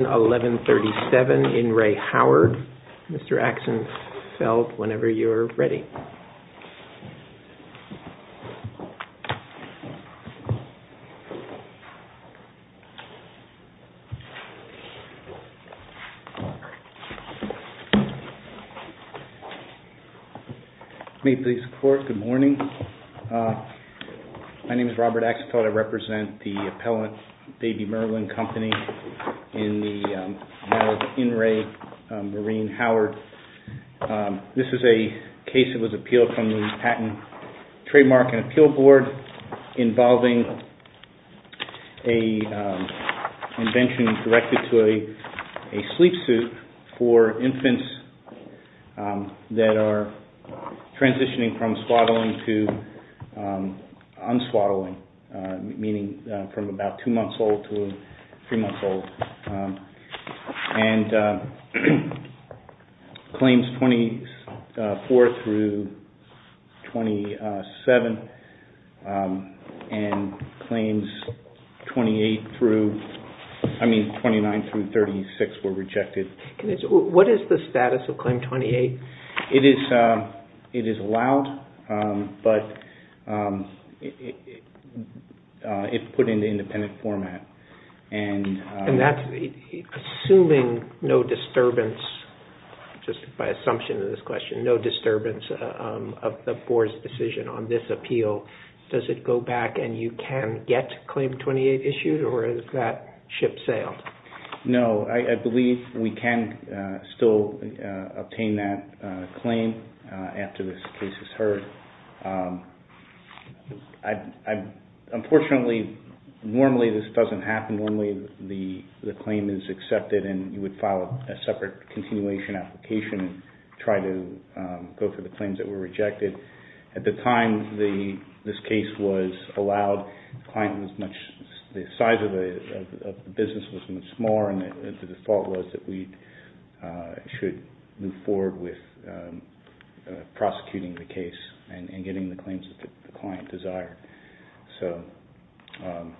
Mr. Axenfeld, whenever you're ready. May please report. Good morning. Uh, my name is Robert Axenfeld. I represent the appellant baby Merlin company in the, um, in Ray, um, Marine Howard. Um, this is a case that was appealed from the patent trademark and appeal board involving a, um, invention directed to a, a sleep suit for infants, um, that are transitioning from swaddling to, um, unswaddling, uh, meaning, uh, from about two months old to three months old. Um, and, uh, claims 24 through 27, um, and claims 28 through, I mean, 29 through 36 were rejected. Can you tell me, what is the status of claim 28? It is, uh, it is allowed, um, but, um, it, uh, it put in the independent format and, And that's assuming no disturbance, just by assumption of this question, no disturbance, uh, um, of the board's decision on this appeal, does it go back and you can get claim 28 issued or is that ship sailed? No, I believe we can, uh, still, uh, obtain that. Uh, claim, uh, after this case is heard. Um, I, I, unfortunately, normally this doesn't happen. Normally the, the claim is accepted and you would file a separate continuation application and try to, um, go for the claims that were rejected. At the time the, this case was allowed, the client was much, the size of the, of the business was much smaller and the default was that we, uh, should move forward with, um, uh, prosecuting the case and getting the claims that the client desired. So, um,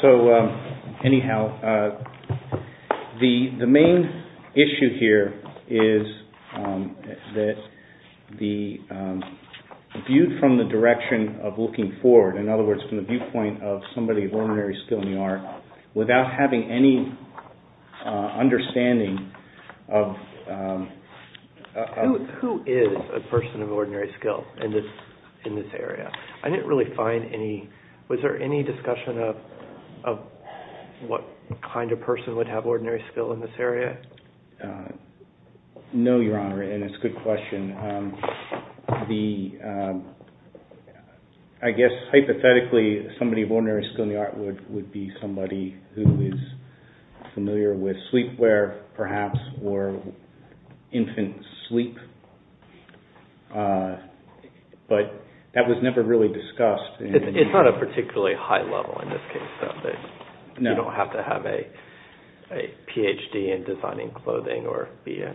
so, um, anyhow, uh, the, the main issue here is, um, that the, um, viewed from the direction of looking forward. In other words, from the viewpoint of somebody of ordinary skill in the art without having any, uh, understanding of, um, uh, Who, who is a person of ordinary skill in this, in this area? I didn't really find any, was there any discussion of, of what kind of person would have ordinary skill in this area? Uh, no, Your Honor. And it's a good question. Um, the, um, I guess hypothetically somebody of ordinary skill in the art would, would be somebody who is familiar with sleepwear perhaps, or infant sleep. Uh, but that was never really discussed. It's not a particularly high level in this case, though, that you don't have to have a, a PhD in designing clothing or be a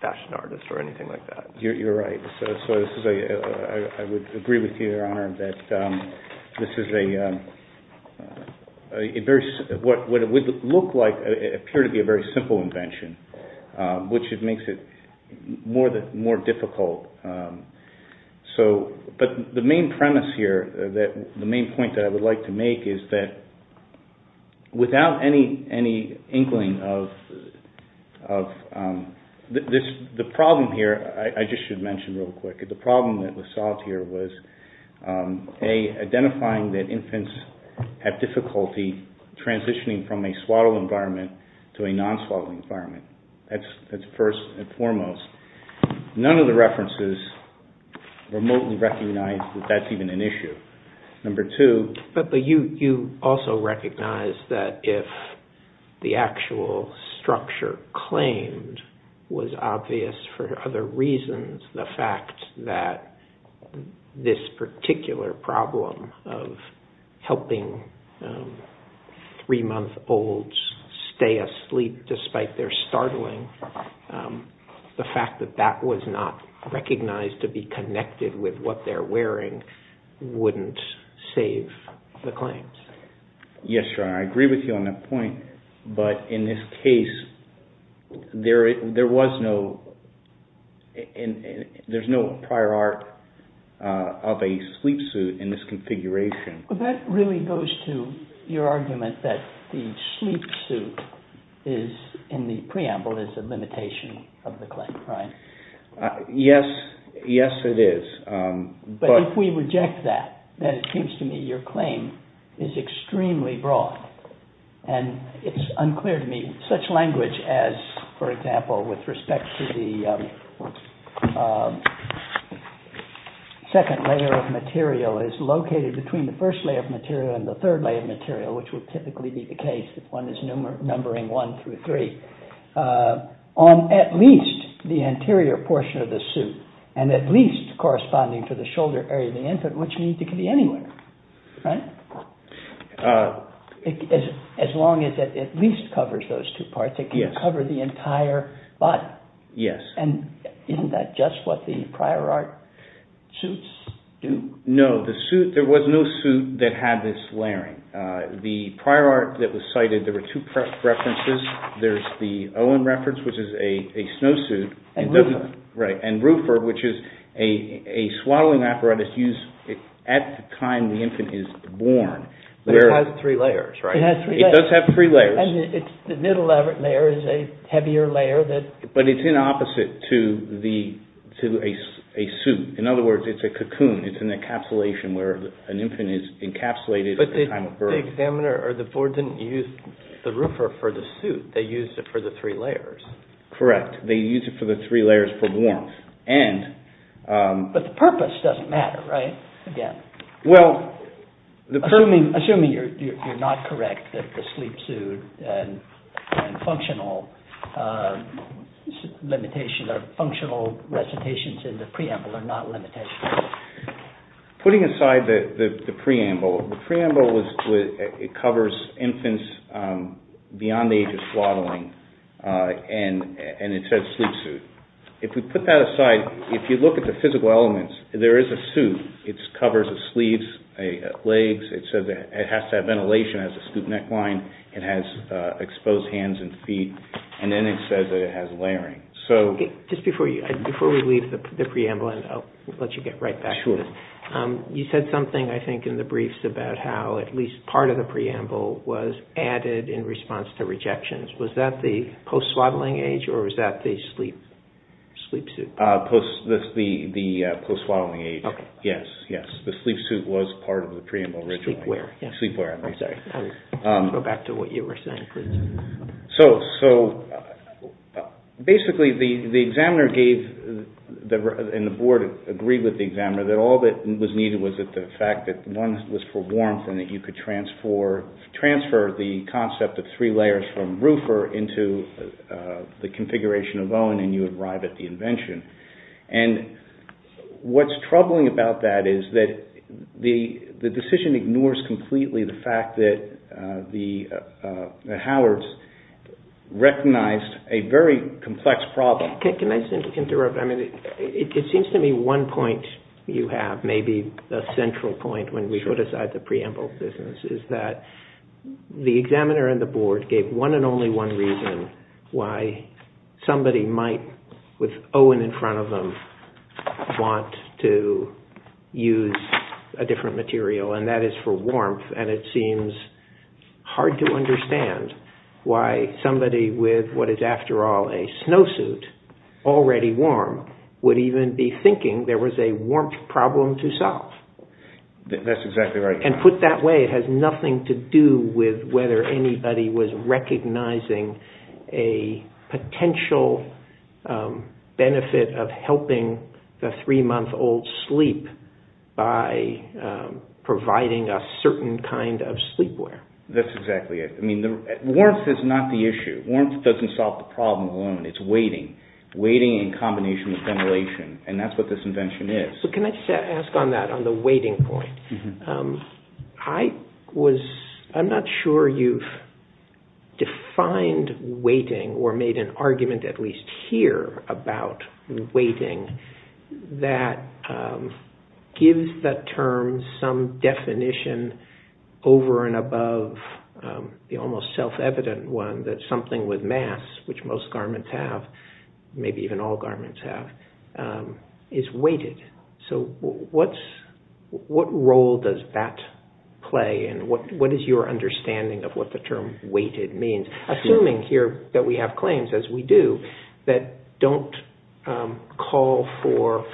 fashion artist or anything like that. You're, you're right. So, so this is a, uh, I would agree with you, Your Honor, that, um, this is a, um, a very, what, what it would look like, it appeared to be a very simple invention, uh, which it makes it more difficult. Um, so, but the main premise here that the main point that I would like to make is that without any, any inkling of, of, um, this, the problem here, I just should mention real quick, the problem that was solved here was, um, A, identifying that infants have difficulty transitioning from a swaddle environment to a non-swaddle environment. That's, that's first and foremost. None of the references remotely recognize that that's even an issue. Number two. But the, you, you also recognize that if the actual structure claimed was obvious for other reasons, the fact that this particular problem of helping, um, three month olds stay asleep, despite their startling, um, the fact that that was not recognized to be connected with what they're wearing wouldn't save the claims. Yes, Your Honor. I agree with you on that point, but in this case, there, there was no, there's no prior art, uh, of a sleep suit in this configuration. Well, that really goes to your argument that the sleep suit is in the preamble is a limitation of the claim, right? Uh, yes, yes, it is. Um, but if we reject that, then it seems to me your claim is extremely broad. And it's unclear to me, such language as, for example, with respect to the, um, um, second layer of material is located between the first layer of material and the third layer of material, which would typically be the case if one is numbering one through three, uh, on at least the anterior portion of the suit and at least corresponding to the shoulder area of the infant, which means it could be anywhere. Right? Uh, as, as long as it at least covers those two parts, it can cover the entire body. Yes. And isn't that just what the prior art suits do? No, the suit, there was no suit that had this layering. Uh, the prior art that was cited, there were two references. There's the Owen reference, which is a, a snow suit. And Ruffer. Right. It has three layers, right? It has three layers. It does have three layers. And it's, the middle layer is a heavier layer that. But it's in opposite to the, to a suit. In other words, it's a cocoon. It's an encapsulation where an infant is encapsulated at the time of birth. But the examiner or the board didn't use the Ruffer for the suit. They used it for the three layers. Correct. They used it for the three layers for warmth. And, um. But the purpose doesn't matter, right? Again. Well, assuming, assuming you're, you're, you're not correct that the sleep suit and functional, uh, limitation of functional recitations in the preamble are not limitations. Putting aside the, the, the preamble, the preamble was, it covers infants, um, beyond the age of swaddling. Uh, and, and it says sleep suit. If we put that aside, if you look at the physical elements, there is a suit. It's covers the sleeves, the legs. It says that it has to have ventilation, has a stoop neckline. It has, uh, exposed hands and feet. And then it says that it has layering. So. Just before you, before we leave the preamble, and I'll let you get right back to this, um, you said something, I think, in the briefs about how at least part of the preamble was added in response to rejections. Was that the post swaddling age or was that the sleep, sleep suit? Uh, post, the, the, uh, post swaddling age. Yes. Yes. The sleep suit was part of the preamble originally. Sleepwear. Sleepwear. I'm sorry. Um. Go back to what you were saying. So, so, uh, basically the, the examiner gave the, and the board agreed with the examiner that all that was needed was that the fact that one was for warmth and that you could transfer, transfer the concept of three layers from roofer into, uh, the configuration of Owen and you arrive at the invention. And what's troubling about that is that the, the decision ignores completely the fact that, uh, the, uh, uh, the Howards recognized a very complex problem. Can I simply interrupt? I mean, it seems to me one point you have maybe a central point when we put aside the preamble business is that the examiner and the board gave one and only one reason why somebody might, with Owen in front of them, want to use a different material and that is for warmth. And it seems hard to understand why somebody with what is after all a snow suit already warm would even be thinking there was a warmth problem to solve. That's exactly right. And put that way, it has nothing to do with whether anybody was recognizing a potential, um, benefit of helping the three month old sleep by, um, providing a certain kind of sleepwear. That's exactly it. I mean, the warmth is not the issue. Warmth doesn't solve the problem alone. It's waiting, waiting in combination with ventilation. And that's what this invention is. So can I just ask on that, on the waiting point, um, I was, I'm not sure you've defined waiting or made an argument at least here about waiting that, um, gives that term some definition over and above, um, the almost self-evident one that something with mass, which most garments have, maybe even all garments have, um, is weighted. So what's, what role does that play? And what, what is your understanding of what the term weighted means? Assuming here that we have claims as we do that don't, um, call for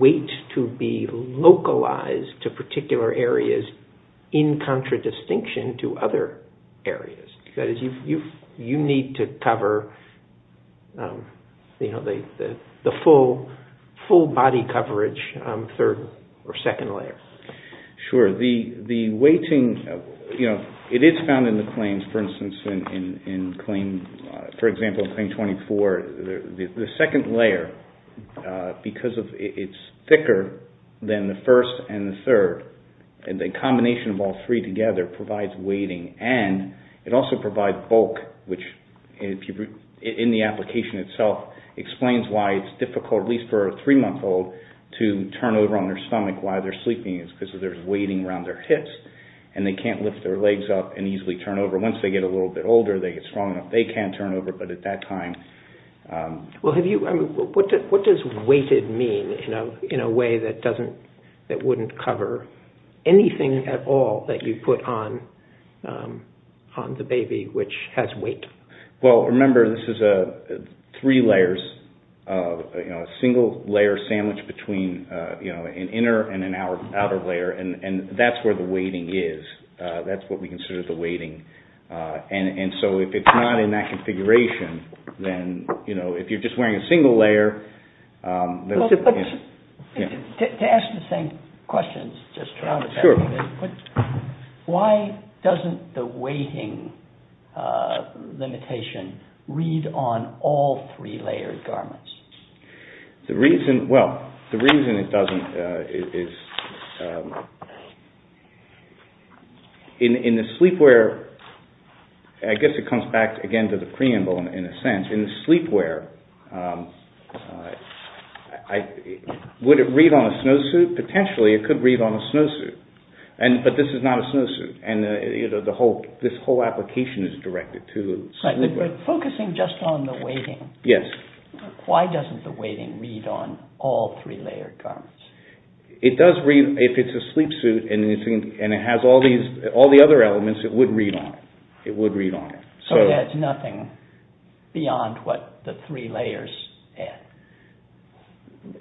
weight to be localized to particular areas in contradistinction to other areas. That is, you, you, you need to cover, um, you know, the, the, the full, full body coverage, um, third or second layer. Sure. The, the weighting, you know, it is found in the claims, for instance, in, in, in claim, uh, for example, in claim 24, the, the, the second layer, uh, because of, it's thicker than the first and the third, and the combination of all three together provides weighting. And it also provides bulk, which if you, in the application itself explains why it's difficult, at least for a three month old to turn over on their stomach while they're sleeping is because there's weighting around their hips and they can't lift their legs up and easily turn over. Once they get a little bit older, they get strong enough. They can turn over, but at that time, um. Well, have you, I mean, what does, what does weighted mean in a, in a way that you put on, um, on the baby, which has weight? Well, remember this is a three layers, uh, you know, a single layer sandwich between, uh, you know, an inner and an outer layer. And, and that's where the weighting is. Uh, that's what we consider the weighting. Uh, and, and so if it's not in that configuration, then, you know, if you're just wearing a single layer, um. To ask the same questions, just try to, but why doesn't the weighting, uh, limitation read on all three layered garments? The reason, well, the reason it doesn't, uh, is, um, in, in the sleepwear, I guess it comes back again to the preamble in a sense, in the sleepwear, um, I, would it read on a snowsuit? Potentially it could read on a snowsuit. And, but this is not a snowsuit. And, uh, you know, the whole, this whole application is directed to the sleepwear. Focusing just on the weighting, why doesn't the weighting read on all three layered garments? It does read, if it's a sleep suit and it has all these, all the other elements, it would read on it. It would read on it. So it adds nothing beyond what the three layers add.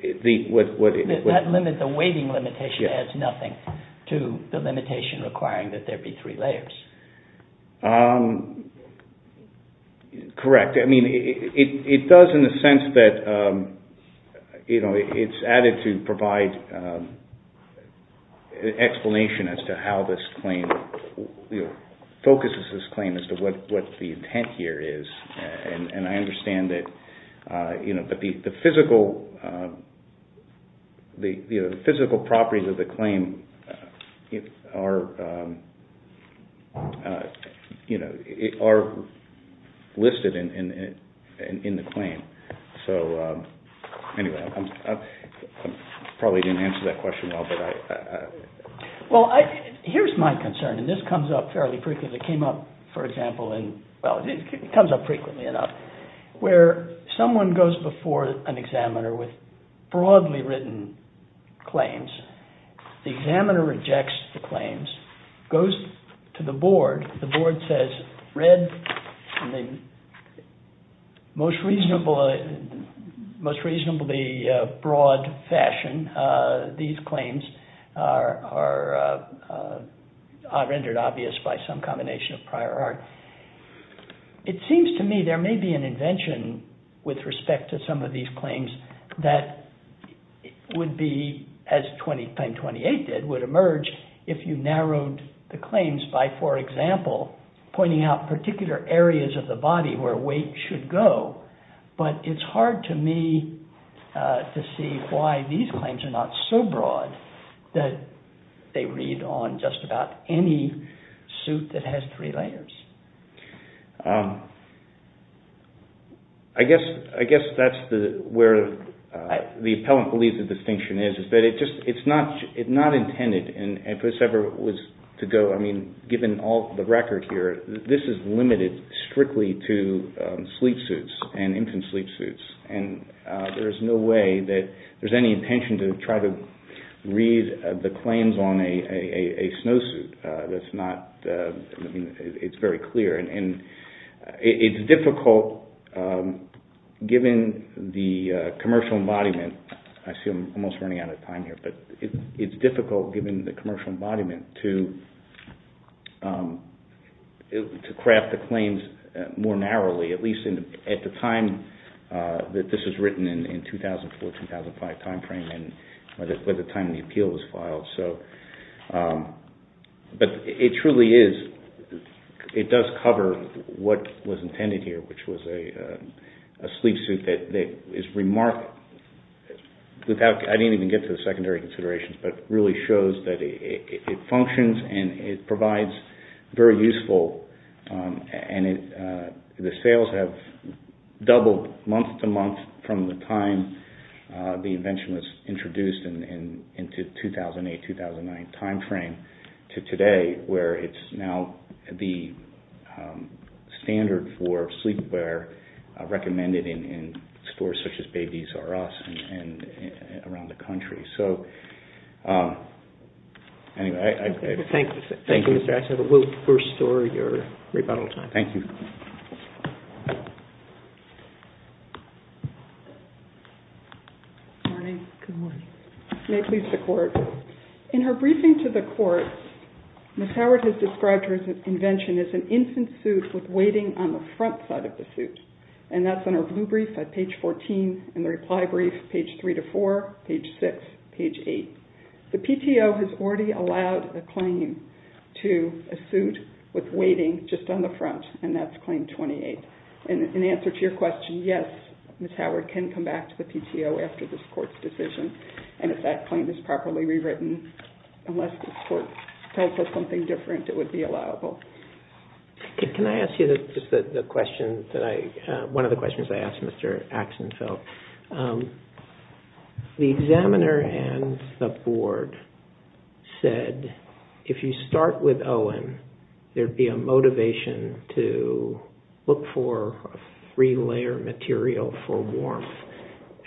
The, what, what, what, that limit, the weighting limitation adds nothing to the limitation requiring that there be three layers. Um, correct. I mean, it, it, it does in the sense that, um, you know, it's added to provide, um, explanation as to how this claim, you know, focuses this the intent here is, and I understand that, uh, you know, but the, the physical, um, the physical properties of the claim are, um, uh, you know, it are listed in, in, in, in the claim. So, um, anyway, I'm probably didn't answer that question well, but I, uh, Well, I, here's my concern and this comes up fairly frequently. It came up, for example, in, well, it comes up frequently enough where someone goes before an examiner with broadly written claims, the examiner rejects the claims, goes to the board. The board says read most reasonable, most reasonably, uh, broad fashion. Uh, these claims are, are, uh, uh, rendered obvious by some combination of prior art. It seems to me there may be an invention with respect to some of these claims that would be as claim 28 did, would emerge if you narrowed the claims by, for example, pointing out particular areas of the body where weight should go. But it's hard to me, uh, to see why these claims are not so broad that they read on just about any suit that has three layers. Um, I guess, I guess that's the, where, uh, the appellant believes the distinction is, is that it just, it's not, it's not intended in, if this ever was to go, I mean, given all the record here, this is limited strictly to, um, sleep suits. And infant sleep suits. And, uh, there is no way that there's any intention to try to read the claims on a, a, a, a snowsuit, uh, that's not, uh, I mean, it's very clear. And, and, uh, it's difficult, um, given the, uh, commercial embodiment, I see I'm almost running out of time here, but it's difficult given the commercial embodiment to, um, to craft the claims more narrowly, at least in, at the time, uh, that this was written in, in 2004, 2005 timeframe and by the, by the time the appeal was filed. So, um, but it truly is, it does cover what was intended here, which was a, a, a sleep suit that, that is remarkable without, I didn't even get to the secondary considerations, but really shows that it, it functions and it, uh, the sales have doubled month to month from the time, uh, the invention was introduced in, in, into 2008, 2009 timeframe to today, where it's now the, um, standard for sleepwear, uh, recommended in, in stores such as Babies R Us and, and around the country. So, um, anyway, I, I, thank you, thank you, Mr. Ashton, we'll restore your rebuttal time. Thank you. Good morning, good morning, may it please the court. In her briefing to the court, Ms. Howard has described her invention as an infant suit with waiting on the front side of the suit. And that's on her blue brief at page 14 and the reply brief, page three to four, page six, page eight. The PTO has already allowed a claim to a suit with waiting just on the front. And that's claim 28. And in answer to your question, yes, Ms. Howard can come back to the PTO after this court's decision. And if that claim is properly rewritten, unless the court tells us something different, it would be allowable. Can I ask you the question that I, uh, one of the questions I asked Mr. Axenfeld, um, the examiner and the board said, if you start with Owen, there'd be a motivation to look for three layer material for warmth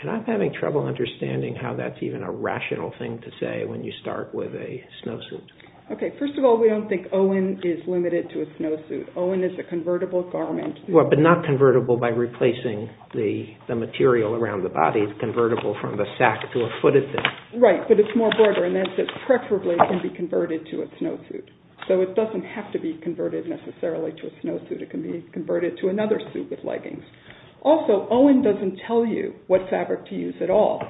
and I'm having trouble understanding how that's even a rational thing to say when you start with a snowsuit. Okay. First of all, we don't think Owen is limited to a snowsuit. Owen is a convertible garment. Well, but not convertible by replacing the material around the body. It's convertible from the sack to a footed thing. Right. But it's more broader and that's it's preferably can be converted to a snowsuit. So it doesn't have to be converted necessarily to a snowsuit. It can be converted to another suit with leggings. Also, Owen doesn't tell you what fabric to use at all.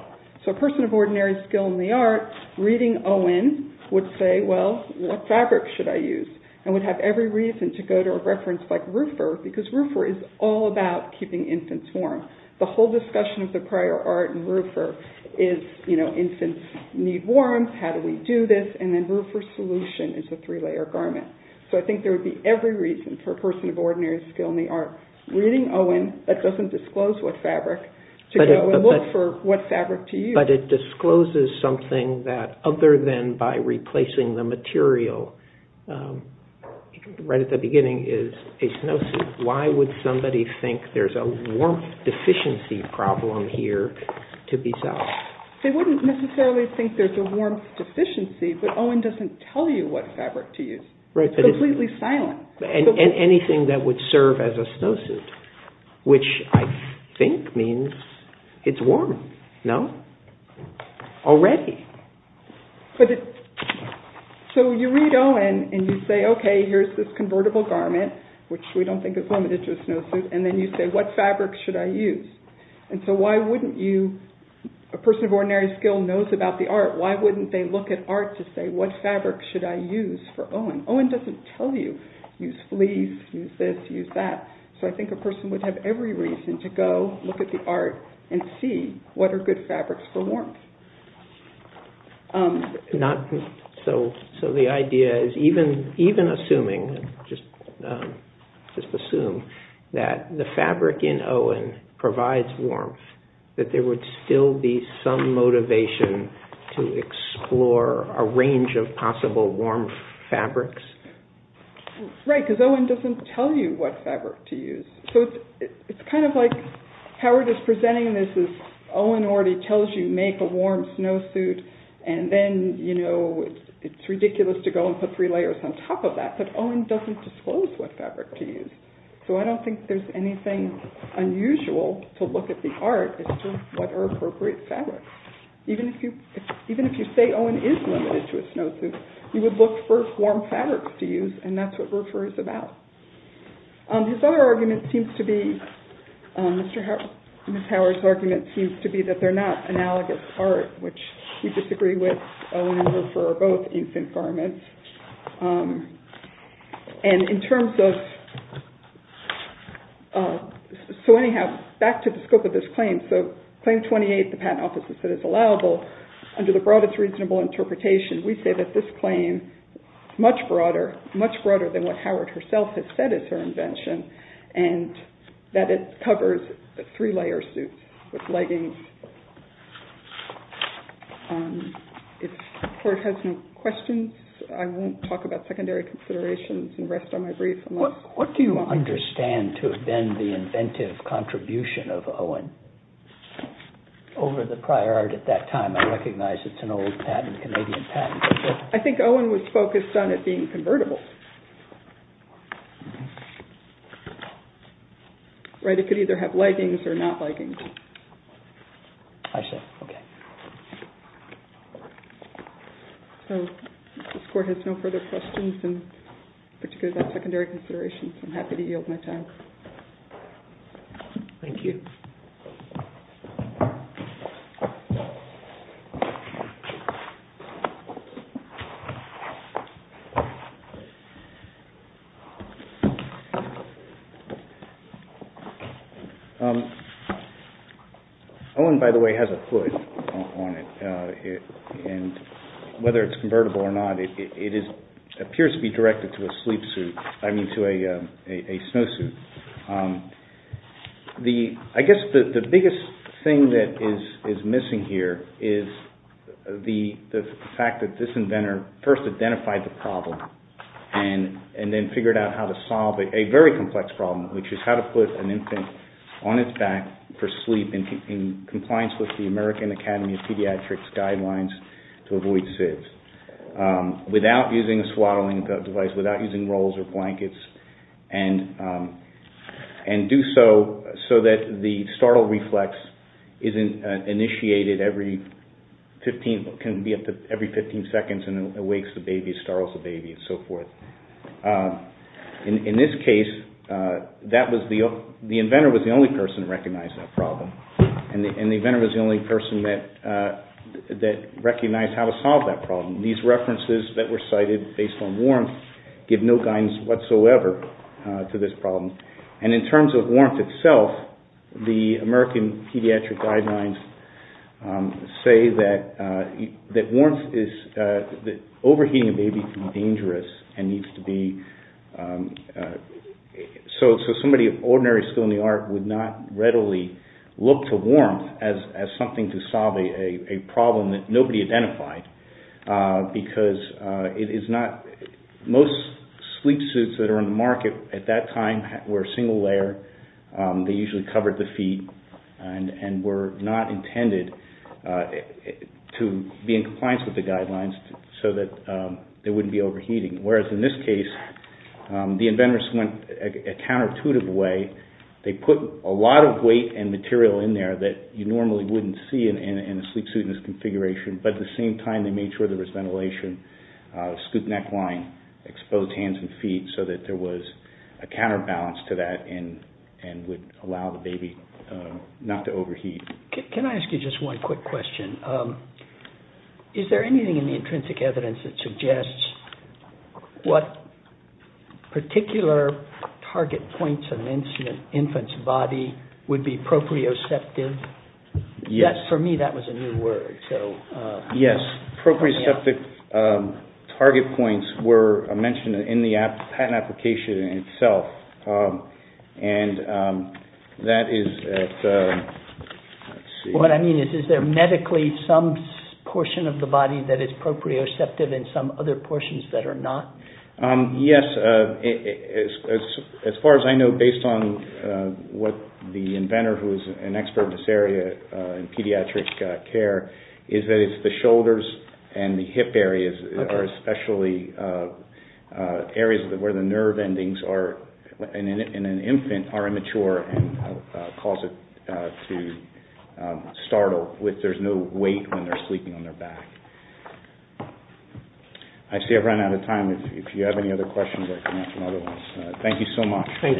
So a person of ordinary skill in the art reading Owen would say, well, what fabric should I use and would have every reason to go to a reference like roofer because roofer is all about keeping infants warm. The whole discussion of the prior art and roofer is, you know, infants need warmth, how do we do this? And then roofer solution is a three-layer garment. So I think there would be every reason for a person of ordinary skill in the art reading Owen that doesn't disclose what fabric to go and look for what fabric to use. But it discloses something that other than by replacing the material, right at the beginning is a snowsuit. Why would somebody think there's a warmth deficiency problem here to be solved? They wouldn't necessarily think there's a warmth deficiency, but Owen doesn't tell you what fabric to use. Completely silent. And anything that would serve as a snowsuit, which I think means it's warm, no? Already. So you read Owen and you say, okay, here's this convertible garment, which we don't think is limited to a snowsuit. And then you say, what fabric should I use? And so why wouldn't you, a person of ordinary skill knows about the art. Why wouldn't they look at art to say, what fabric should I use for Owen? Owen doesn't tell you. Use fleece, use this, use that. So I think a person would have every reason to go look at the art and see what are good fabrics for warmth. So the idea is even assuming, just assume that the fabric in Owen provides warmth, that there would still be some motivation to explore a range of possible warmth fabrics. Right. Because Owen doesn't tell you what fabric to use. So it's kind of like Howard is presenting this as Owen already tells you, make a warm snowsuit and then, you know, it's ridiculous to go and put three layers on top of that, but Owen doesn't disclose what fabric to use. So I don't think there's anything unusual to look at the art as to what are appropriate fabrics. Even if you, even if you say Owen is limited to a snowsuit, you would look for warm fabrics to use. And that's what Roofer is about. His other argument seems to be, Mr. They're not analogous art, which we disagree with for both infant garments. And in terms of, so anyhow, back to the scope of this claim. So claim 28, the patent office has said it's allowable under the broadest reasonable interpretation. We say that this claim, much broader, much broader than what Howard herself has said is her invention and that it covers three layer suits with leggings. If the court has no questions, I won't talk about secondary considerations and rest on my brief. What do you understand to have been the inventive contribution of Owen over the prior art at that time? I recognize it's an old patent, Canadian patent. I think Owen was focused on it being convertible. Right. It could either have leggings or not leggings. I see. Okay. So this court has no further questions in particular about secondary considerations. I'm happy to yield my time. Thank you. Owen, by the way, has a foot on it and whether it's convertible or not, it appears to be directed to a sleep suit, I mean, to a snowsuit. I guess the biggest thing that is missing here is the fact that this inventor first introduced a very complex problem, which is how to put an infant on its back for sleep in compliance with the American Academy of Pediatrics guidelines to avoid SIDS without using a swaddling device, without using rolls or blankets and do so so that the startle reflex isn't initiated every 15, can be up to every 15 seconds and it wakes the baby, startles the baby and so forth. In this case, the inventor was the only person who recognized that problem and the inventor was the only person that recognized how to solve that problem. These references that were cited based on warrants give no guidance whatsoever to this problem. And in terms of warrants itself, the American pediatric guidelines say that overheating a sleep suit seems to be, so somebody of ordinary skill in the art would not readily look to warmth as something to solve a problem that nobody identified because it is not, most sleep suits that are on the market at that time were a single layer, they usually covered the feet and were not intended to be in compliance with the guidelines so that they wouldn't be overheating. Whereas in this case, the inventors went a counterintuitive way, they put a lot of weight and material in there that you normally wouldn't see in a sleep suit in this configuration, but at the same time they made sure there was ventilation, scoop neck line, exposed hands and feet so that there was a counterbalance to that and would allow the baby not to overheat. Can I ask you just one quick question? Is there anything in the intrinsic evidence that suggests what particular target points of an infant's body would be proprioceptive? Yes, for me that was a new word. Yes, proprioceptive target points were mentioned in the patent application itself and that is... What I mean is, is there medically some portion of the body that is proprioceptive and some other portions that are not? Yes, as far as I know, based on what the inventor who is an expert in this area, in pediatric care, is that it's the shoulders and the hip areas are especially areas where the nerve endings in an infant are immature and cause it to startle, where there is no weight when they are sleeping on their back. I see I've run out of time. If you have any other questions, I can answer them otherwise. Thank you so much. Thank you, Mr. Ashton. The application is submitted.